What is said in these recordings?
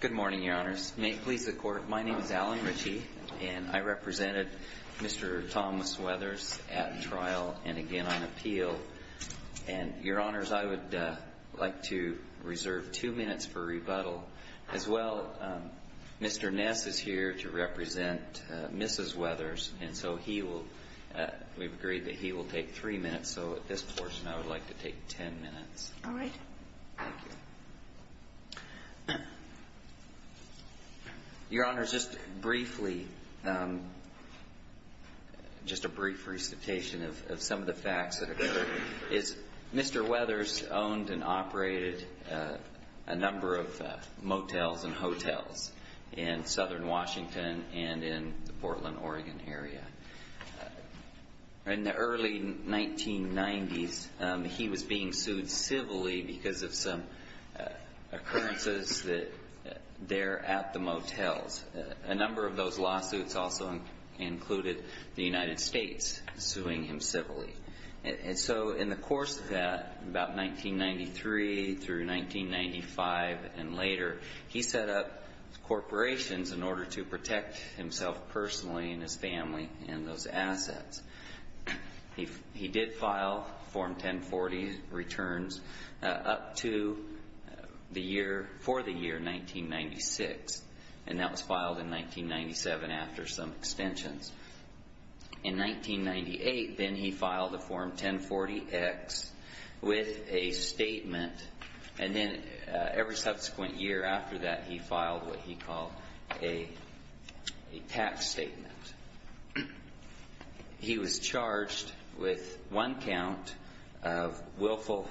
Good morning, Your Honors. May it please the Court, my name is Alan Ritchie and I represented Mr. Thomas Weathers at trial and again on appeal. And, Your Honors, I would like to reserve two minutes for rebuttal. As well, Mr. Ness is here to represent Mrs. Weathers and so he will, we've agreed that he will take three minutes, so at this portion I would like to take ten minutes. Your Honors, just briefly, just a brief recitation of some of the facts that occurred is Mr. Weathers owned and operated a number of motels and hotels in southern Washington and in the Portland, Oregon area. In the early 1990s, he was being sued civilly because of some occurrences that there at the motels. A number of those lawsuits also included the United States suing him civilly. And so, in the course of that, about ten years later, he was sued by various corporations in order to protect himself personally and his family and those assets. He did file Form 1040 returns up to the year, for the year, 1996. And that was filed in 1997 after some extensions. In 1998, then he filed a Form 1040X with a statement and then every subsequent year after that he filed what he called a tax statement. He was charged with one count of willful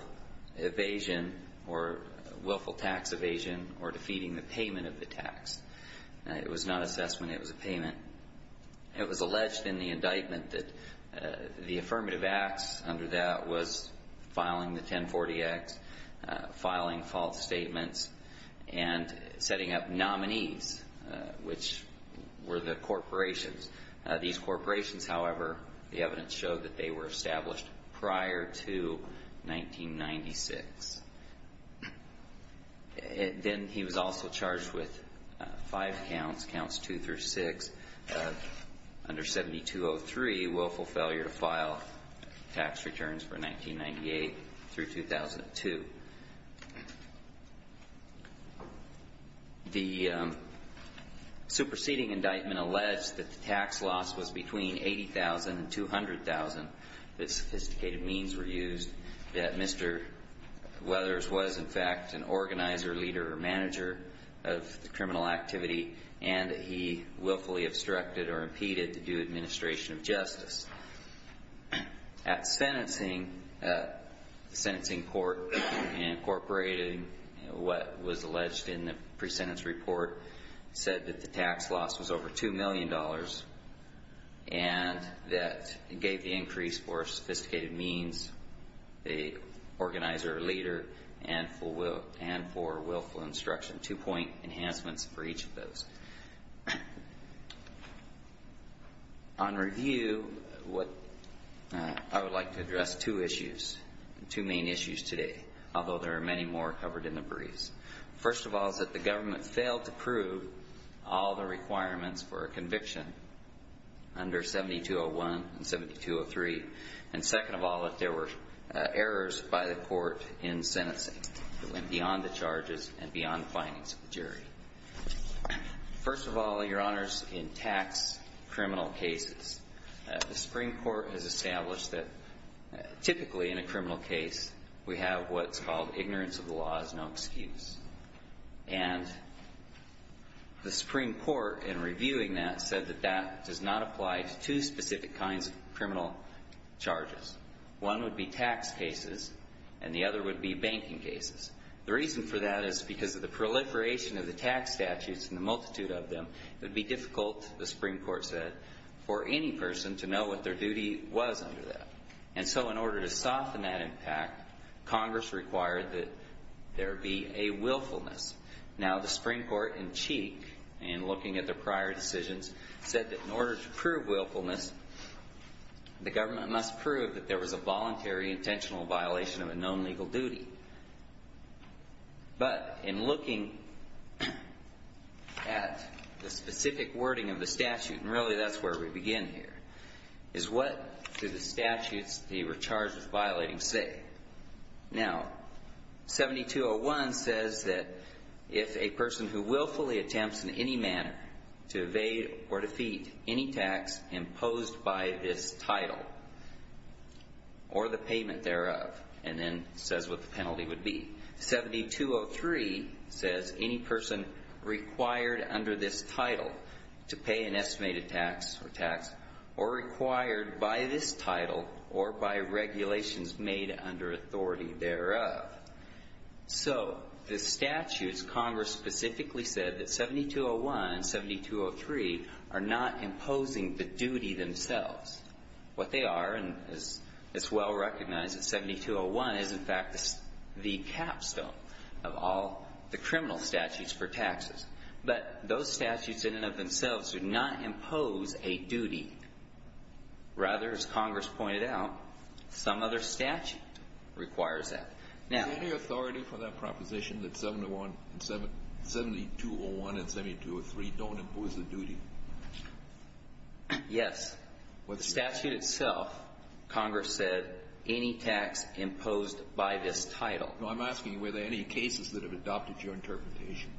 evasion or willful tax evasion or defeating the payment of the tax. It was not assessment, it was a payment. It was alleged in the indictment that the affirmative acts under that was filing the 1040X, filing false statements, and setting up nominees, which were the corporations. These corporations, however, the evidence showed that they were established prior to 1996. Then he was also charged with five counts, counts two through six, under 7203, willful failure to file tax returns for 1998 through 2002. The superseding indictment alleged that the tax loss was between $80,000 and $200,000, that sophisticated means were used, that Mr. Weathers was in an organizer, leader, or manager of the criminal activity, and that he willfully obstructed or impeded the due administration of justice. At sentencing, the sentencing court incorporated what was alleged in the pre-sentence report, said that the tax loss was over $2 million and that it gave the increase for sophisticated means, the organizer or leader, and for willful obstruction, two-point enhancements for each of those. On review, I would like to address two issues, two main issues today, although there are many more covered in the briefs. First of all, is that the government failed to prove all the requirements for a conviction under 7201 and 7203. And second of all, that there were errors by the court in sentencing that went beyond the charges and beyond findings of the jury. First of all, Your Honors, in tax criminal cases, the Supreme Court has established that typically in a criminal case we have what's called ignorance of the law is no excuse. And the Supreme Court, in reviewing that, said that that does not apply to two specific kinds of criminal charges. One would be tax cases and the other would be banking cases. The reason for that is because of the proliferation of the tax statutes and the multitude of them, it would be difficult, the Supreme Court said, for any person to know what their duty was under that. And so in order to soften that impact, Congress required that there be a willfulness. Now, the Supreme Court in Cheek, in looking at their prior decisions, said that in order to prove willfulness, the government must prove that there was a voluntary intentional violation of a known legal duty. But in looking at the specific wording of the statute, and really that's where we begin here, is what do the statutes, the recharges violating say? Now, 7201 says that if a person who willfully attempts in any manner to evade or defeat any tax imposed by this title or the payment thereof, and then says what the penalty would be. 7203 says any person required under this title to pay an estimated tax or tax or required by this title or by regulations made under authority thereof. So the statutes, Congress specifically said that 7201 and 7203 are not imposing the duty themselves. What they are, and it's well recognized that 7201 is in fact the capstone of all the criminal statutes for taxes. But those statutes in and of themselves do not impose a duty. Rather, as Congress pointed out, some other statute requires that. Is there any authority for that proposition that 7201 and 7203 don't impose the duty? Yes. With the statute itself, Congress said any tax imposed by this title. I'm asking, were there any cases that have adopted your interpretation?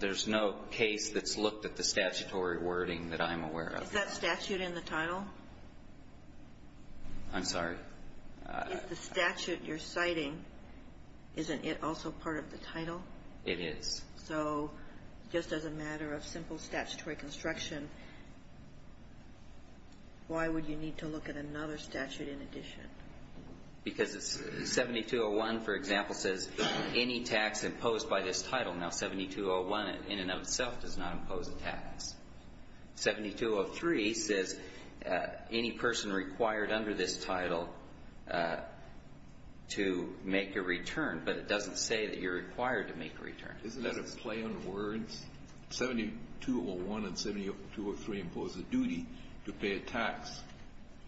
There's no case that's looked at the statutory wording that I'm aware of. Is that statute in the title? I'm sorry? If the statute you're citing, isn't it also part of the title? It is. So just as a matter of simple statutory construction, why would you need to look at another statute in addition? Because 7201, for example, says any tax imposed by this title. Now, 7201 in and of itself does not impose a tax. 7203 says any person required under this title to make a return, but it doesn't say that you're required to make a return. Isn't that a play on words? 7201 and 7203 impose a duty to pay a tax,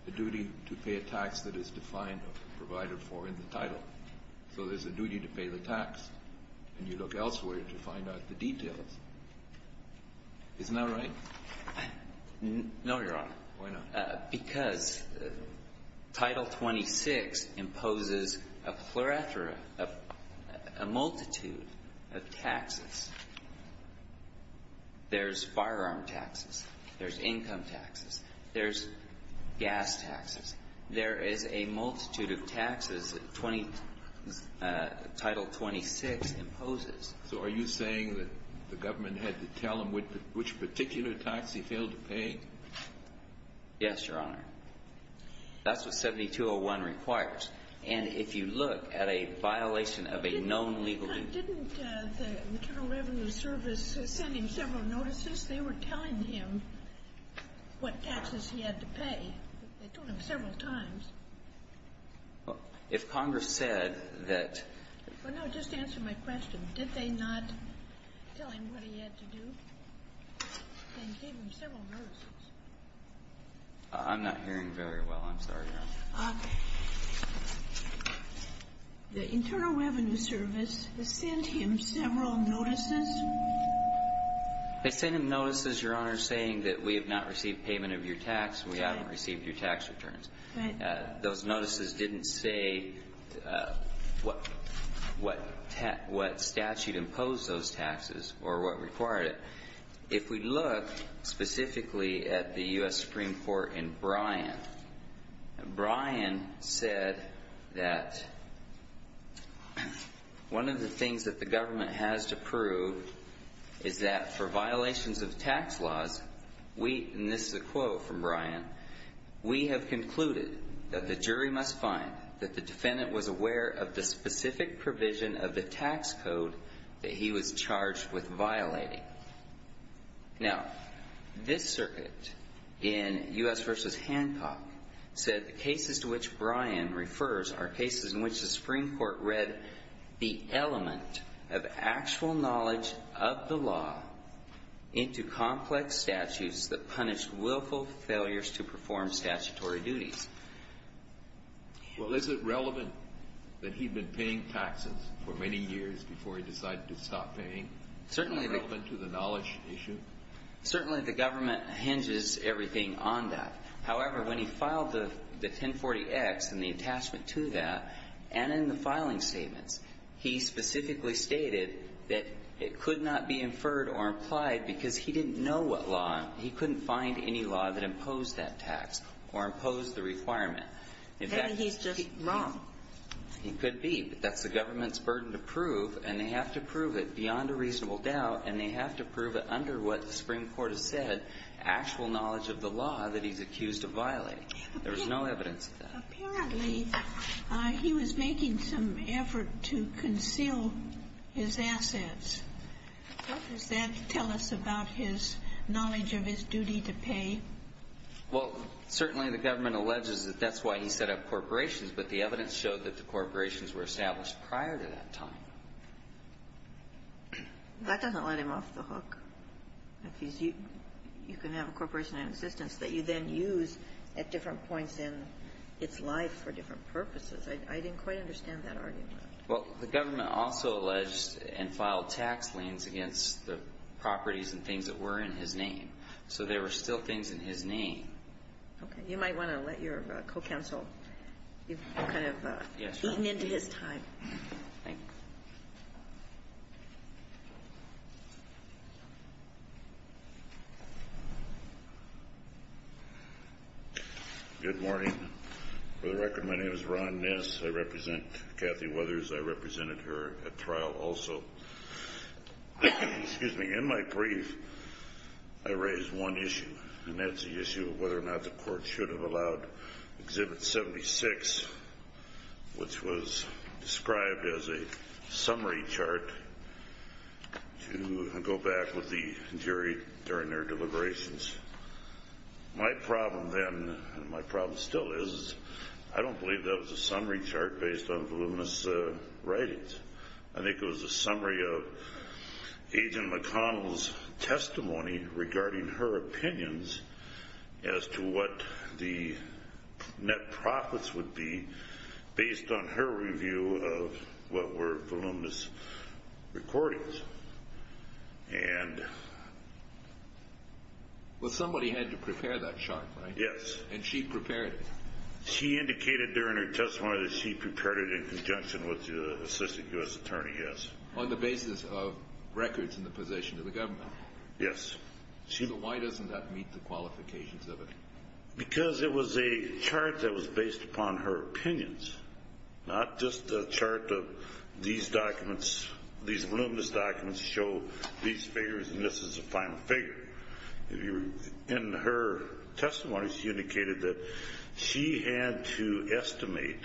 a duty to pay a tax that is defined or provided for in the title. So there's a duty to pay the tax, and you look elsewhere to find out the details. Isn't that right? No, Your Honor. Why not? Because Title 26 imposes a pluralthera, a multitude of taxes. There's firearm taxes. There's income taxes. There's gas taxes. There is a multitude of taxes Title 26 imposes. So are you saying that the government had to tell him which particular tax he failed to pay? Yes, Your Honor. That's what 7201 requires. And if you look at a violation of a known legal duty ---- Didn't the Internal Revenue Service send him several notices? They were telling him what taxes he had to pay. They told him several times. Well, if Congress said that ---- Well, no. Just answer my question. Did they not tell him what he had to do? They gave him several notices. I'm not hearing very well. I'm sorry, Your Honor. The Internal Revenue Service sent him several notices. They sent him notices, Your Honor, saying that we have not received payment of your tax and we haven't received your tax returns. Right. Those notices didn't say what statute imposed those taxes or what required it. If we look specifically at the U.S. Supreme Court in Bryan, Bryan said that one of the things that the government has to prove is that for violations of tax laws, we ---- that the jury must find that the defendant was aware of the specific provision of the tax code that he was charged with violating. Now, this circuit in U.S. v. Hancock said the cases to which Bryan refers are cases in which the Supreme Court read the element of actual knowledge of the law into complex statutes that punish willful failures to perform statutory duties. Well, is it relevant that he'd been paying taxes for many years before he decided to stop paying? Certainly. Is it relevant to the knowledge issue? Certainly. The government hinges everything on that. However, when he filed the 1040X and the attachment to that and in the filing statements, he specifically stated that it could not be inferred or implied because he didn't know what law, he couldn't find any law that imposed that tax or imposed the requirement. Then he's just wrong. He could be, but that's the government's burden to prove, and they have to prove it beyond a reasonable doubt, and they have to prove it under what the Supreme Court has said, actual knowledge of the law that he's accused of violating. There was no evidence of that. Apparently, he was making some effort to conceal his assets. What does that tell us about his knowledge of his duty to pay? Well, certainly the government alleges that that's why he set up corporations, but the evidence showed that the corporations were established prior to that time. That doesn't let him off the hook. You can have a corporation in existence that you then use at different points in its life for different purposes. I didn't quite understand that argument. Well, the government also alleged and filed tax liens against the properties and things that were in his name, so there were still things in his name. Okay. You might want to let your co-counsel. You've kind of eaten into his time. Thank you. Good morning. For the record, my name is Ron Ness. I represent Kathy Weathers. I represented her at trial also. In my brief, I raised one issue, and that's the issue of whether or not the court should have allowed Exhibit 76, which was described as a summary chart, to go back with the jury during their deliberations. My problem then, and my problem still is, I don't believe that was a summary chart based on voluminous writings. I think it was a summary of Agent McConnell's testimony regarding her opinions as to what the net profits would be based on her review of what were voluminous recordings. Well, somebody had to prepare that chart, right? Yes. And she prepared it? She indicated during her testimony that she prepared it in conjunction with the assistant U.S. attorney, yes. On the basis of records in the possession of the government? Yes. So why doesn't that meet the qualifications of it? Because it was a chart that was based upon her opinions, not just a chart of these documents, these voluminous documents show these figures, and this is the final figure. In her testimony, she indicated that she had to estimate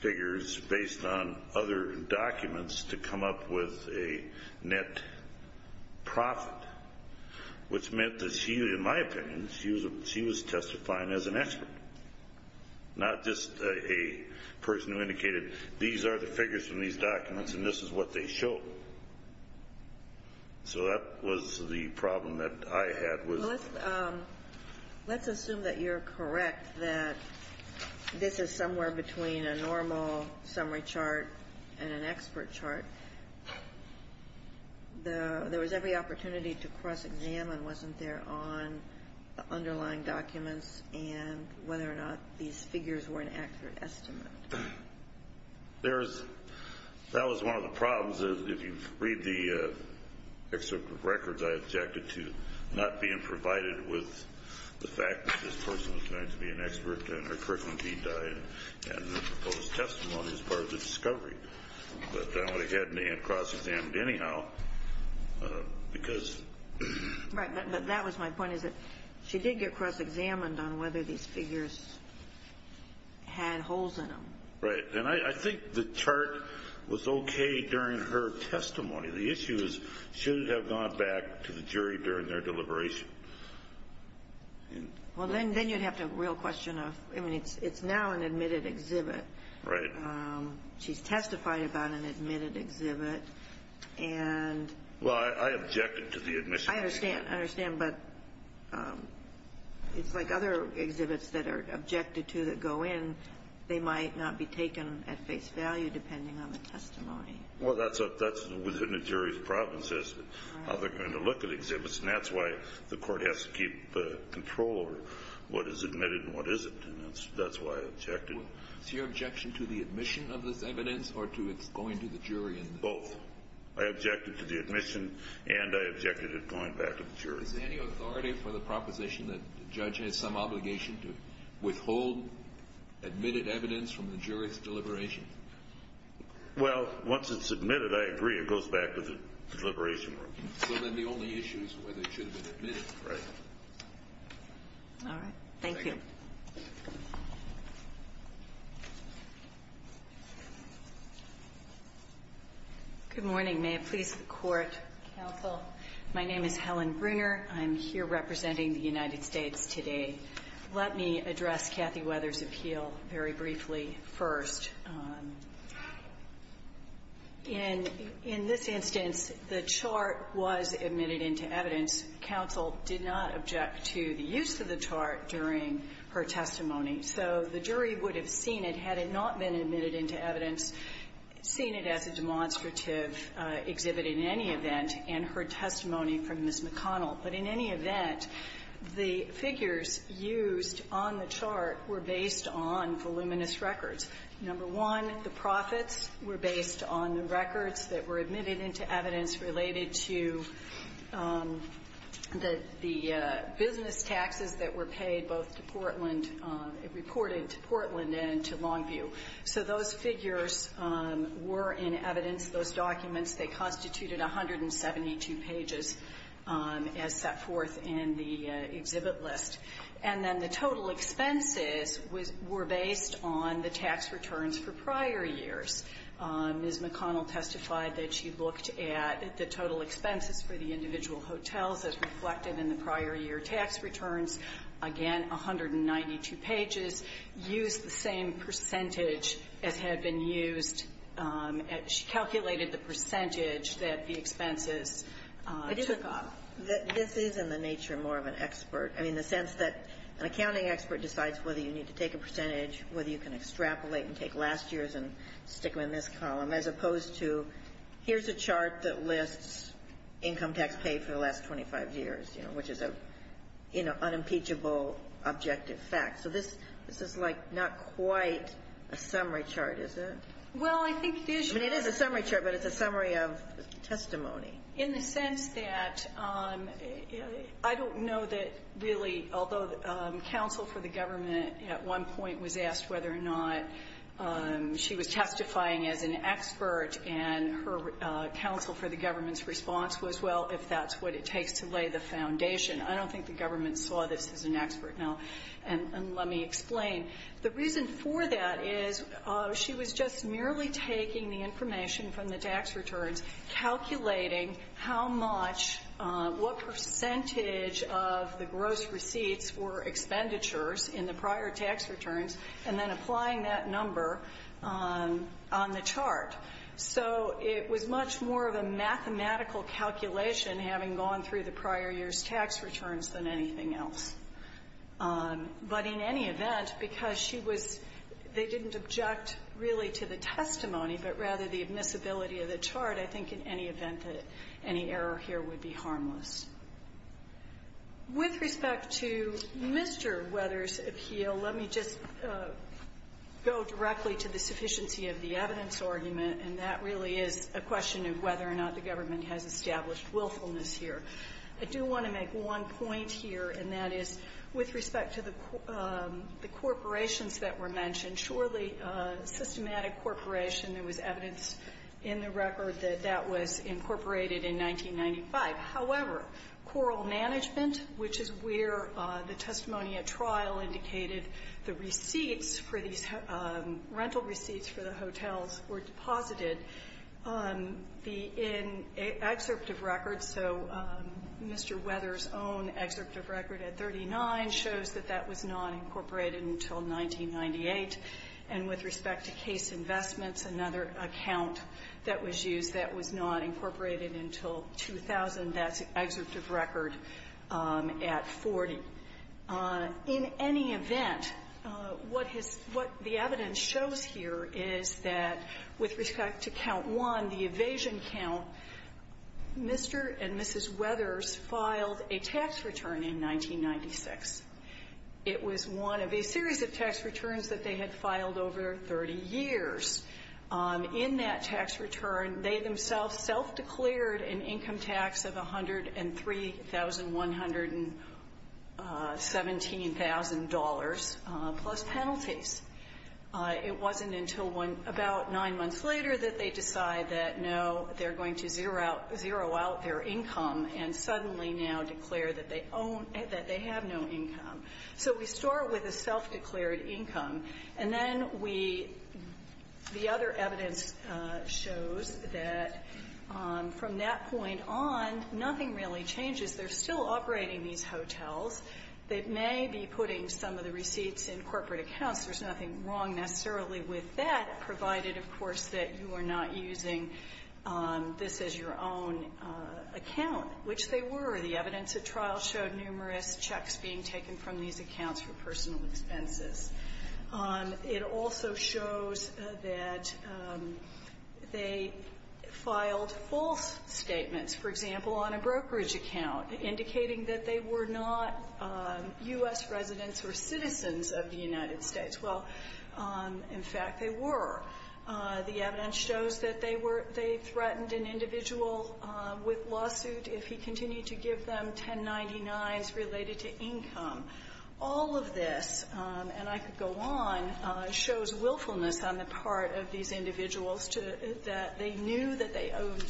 figures based on other documents to come up with a net profit, which meant that she, in my opinion, she was testifying as an expert, not just a person who indicated these are the figures from these documents and this is what they show. So that was the problem that I had. Let's assume that you're correct, that this is somewhere between a normal summary chart and an expert chart. There was every opportunity to cross-examine, wasn't there, on the underlying documents and whether or not these figures were an accurate estimate. That was one of the problems. If you read the excerpt of records, I objected to not being provided with the fact that this person was going to be an expert in her curriculum until she died and the proposed testimony as part of the discovery. But I would have had me cross-examined anyhow because Right. But that was my point is that she did get cross-examined on whether these figures had holes in them. Right. And I think the chart was okay during her testimony. The issue is she should have gone back to the jury during their deliberation. Well, then you'd have to have a real question of, I mean, it's now an admitted exhibit. Right. She's testified about an admitted exhibit. And Well, I objected to the admission. I understand. I understand. But it's like other exhibits that are objected to that go in. They might not be taken at face value depending on the testimony. Well, that's within the jury's province as to how they're going to look at exhibits. And that's why the court has to keep control over what is admitted and what isn't. And that's why I objected. So is your objection to the admission of this evidence or to its going to the jury? Both. I objected to the admission, and I objected to it going back to the jury. Is there any authority for the proposition that the judge has some obligation to withhold admitted evidence from the jury's deliberation? Well, once it's admitted, I agree, it goes back to the deliberation room. So then the only issue is whether it should have been admitted. Right. All right. Thank you. Good morning. May it please the Court, counsel. My name is Helen Bruner. I'm here representing the United States today. Let me address Kathy Weathers' appeal very briefly first. In this instance, the chart was admitted into evidence. Counsel did not object to the use of the chart during her testimony. So the jury would have seen it had it not been admitted into evidence, seen it as a demonstrative exhibit in any event, and heard testimony from Ms. McConnell. But in any event, the figures used on the chart were based on voluminous records. Number one, the profits were based on the records that were admitted into evidence related to the business taxes that were paid both to Portland, reported to Portland and to Longview. So those figures were in evidence, those documents. They constituted 172 pages as set forth in the exhibit list. And then the total expenses were based on the tax returns for prior years. Ms. McConnell testified that she looked at the total expenses for the individual hotels as reflected in the prior year tax returns. Again, 192 pages used the same percentage as had been used. She calculated the percentage that the expenses took up. This is in the nature more of an expert. I mean, the sense that an accounting expert decides whether you need to take a percentage, whether you can extrapolate and take last year's and stick them in this column, as opposed to here's a chart that lists income tax paid for the last 25 years, you know, which is an unimpeachable objective fact. So this is like not quite a summary chart, is it? Well, I think it is. I mean, it is a summary chart, but it's a summary of testimony. In the sense that I don't know that really, although counsel for the government at one point was asked whether or not she was testifying as an expert, and her counsel for the government's response was, well, if that's what it takes to lay the foundation. I don't think the government saw this as an expert. And let me explain. The reason for that is she was just merely taking the information from the tax returns, calculating how much, what percentage of the gross receipts were expenditures in the prior tax returns, and then applying that number on the chart. So it was much more of a mathematical calculation, having gone through the prior year's tax returns, than anything else. But in any event, because she was they didn't object really to the testimony, but rather the admissibility of the chart, I think in any event that any error here would be harmless. With respect to Mr. Weather's appeal, let me just go directly to the sufficiency of the evidence argument, and that really is a question of whether or not the government has established willfulness here. I do want to make one point here, and that is with respect to the corporations that were mentioned. Surely systematic corporation, there was evidence in the record that that was incorporated in 1995. However, coral management, which is where the testimony at trial indicated the receipts for these rental receipts for the hotels were deposited, the excerpt of record, so Mr. Weather's own excerpt of record at 39 shows that that was not incorporated until 1998. And with respect to case investments, another account that was used that was not incorporated until 2000, that's excerpt of record at 40. In any event, what has what the evidence shows here is that with respect to count one, the evasion count, Mr. and Mrs. Weathers filed a tax return in 1996. It was one of a series of tax returns that they had filed over 30 years. In that tax return, they themselves self-declared an income tax of $103,117,000 plus penalties. It wasn't until about nine months later that they decide that, no, they're going to zero out their income and suddenly now declare that they have no income. So we start with a self-declared income. And then we the other evidence shows that from that point on, nothing really changes. They're still operating these hotels. They may be putting some of the receipts in corporate accounts. There's nothing wrong necessarily with that, provided, of course, that you are not using this as your own account, which they were. The evidence at trial showed numerous checks being taken from these accounts for personal expenses. It also shows that they filed false statements, for example, on a brokerage account, indicating that they were not U.S. residents or citizens of the United States. Well, in fact, they were. The evidence shows that they were they threatened an individual with lawsuit if he continued to give them 1099s related to income. All of this, and I could go on, shows willfulness on the part of these individuals to that they knew that they owed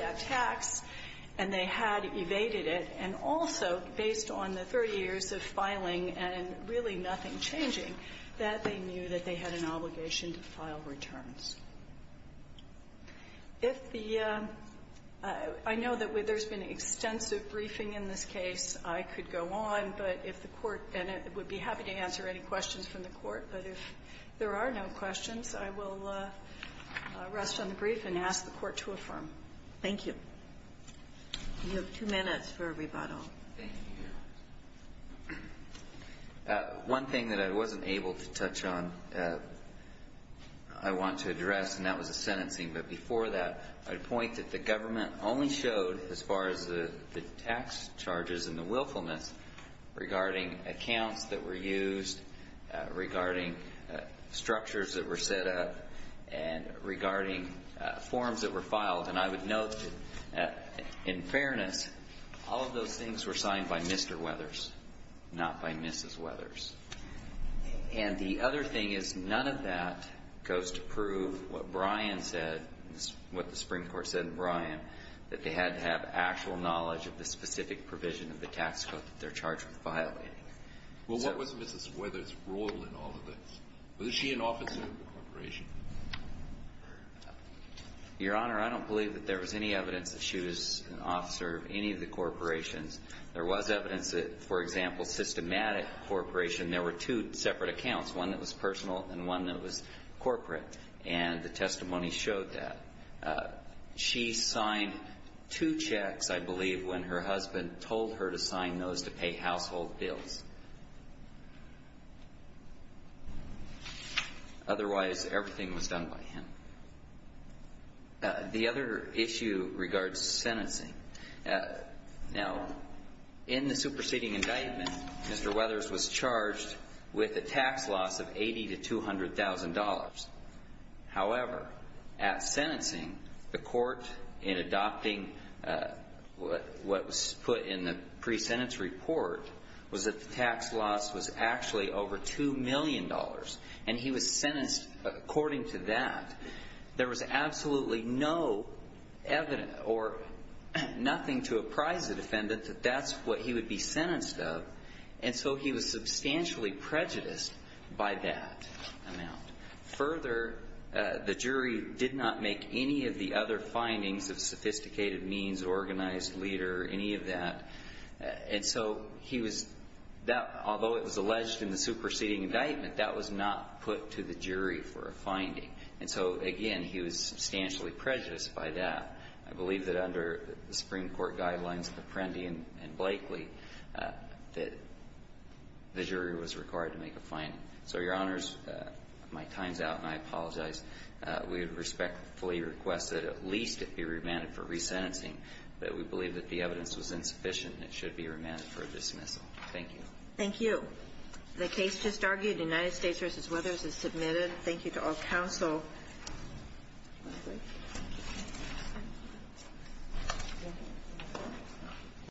that tax and they had evaded it. And also, based on the 30 years of filing and really nothing changing, that they knew that they had an obligation to file returns. If the – I know that there's been extensive briefing in this case. I could go on, but if the Court – and I would be happy to answer any questions from the Court, but if there are no questions, I will rest on the brief and ask the Court to affirm. Thank you. You have two minutes for rebuttal. Thank you. One thing that I wasn't able to touch on I want to address, and that was the sentencing. But before that, I'd point that the government only showed, as far as the tax charges and the willfulness regarding accounts that were used, regarding structures that were set up, and regarding forms that were filed. And I would note that, in fairness, all of those things were signed by Mr. Weathers, not by Mrs. Weathers. And the other thing is none of that goes to prove what Brian said, what the Supreme Court said in Brian, that they had to have actual knowledge of the specific provision of the tax code that they're charged with violating. Well, what was Mrs. Weathers' role in all of this? Was she an officer of the corporation? Your Honor, I don't believe that there was any evidence that she was an officer of any of the corporations. There was evidence that, for example, systematic corporation, there were two separate accounts, one that was personal and one that was corporate. And the testimony showed that. She signed two checks, I believe, when her husband told her to sign those to pay The other issue regards sentencing. Now, in the superseding indictment, Mr. Weathers was charged with a tax loss of $80,000 to $200,000. However, at sentencing, the court, in adopting what was put in the pre-sentence report, was that the tax loss was actually over $2 million. And he was sentenced, according to that, there was absolutely no evidence or nothing to apprise the defendant that that's what he would be sentenced of. And so he was substantially prejudiced by that amount. Further, the jury did not make any of the other findings of sophisticated means, organized leader, any of that. And so he was, although it was alleged in the superseding indictment, that was not put to the jury for a finding. And so, again, he was substantially prejudiced by that. I believe that under the Supreme Court guidelines of Apprendi and Blakely, that the jury was required to make a finding. So, Your Honors, my time's out, and I apologize. We would respectfully request that at least it be remanded for resentencing, that we believe that the evidence was insufficient, and it should be remanded for dismissal. Thank you. Thank you. The case just argued, United States v. Weathers, is submitted. Thank you to all counsel.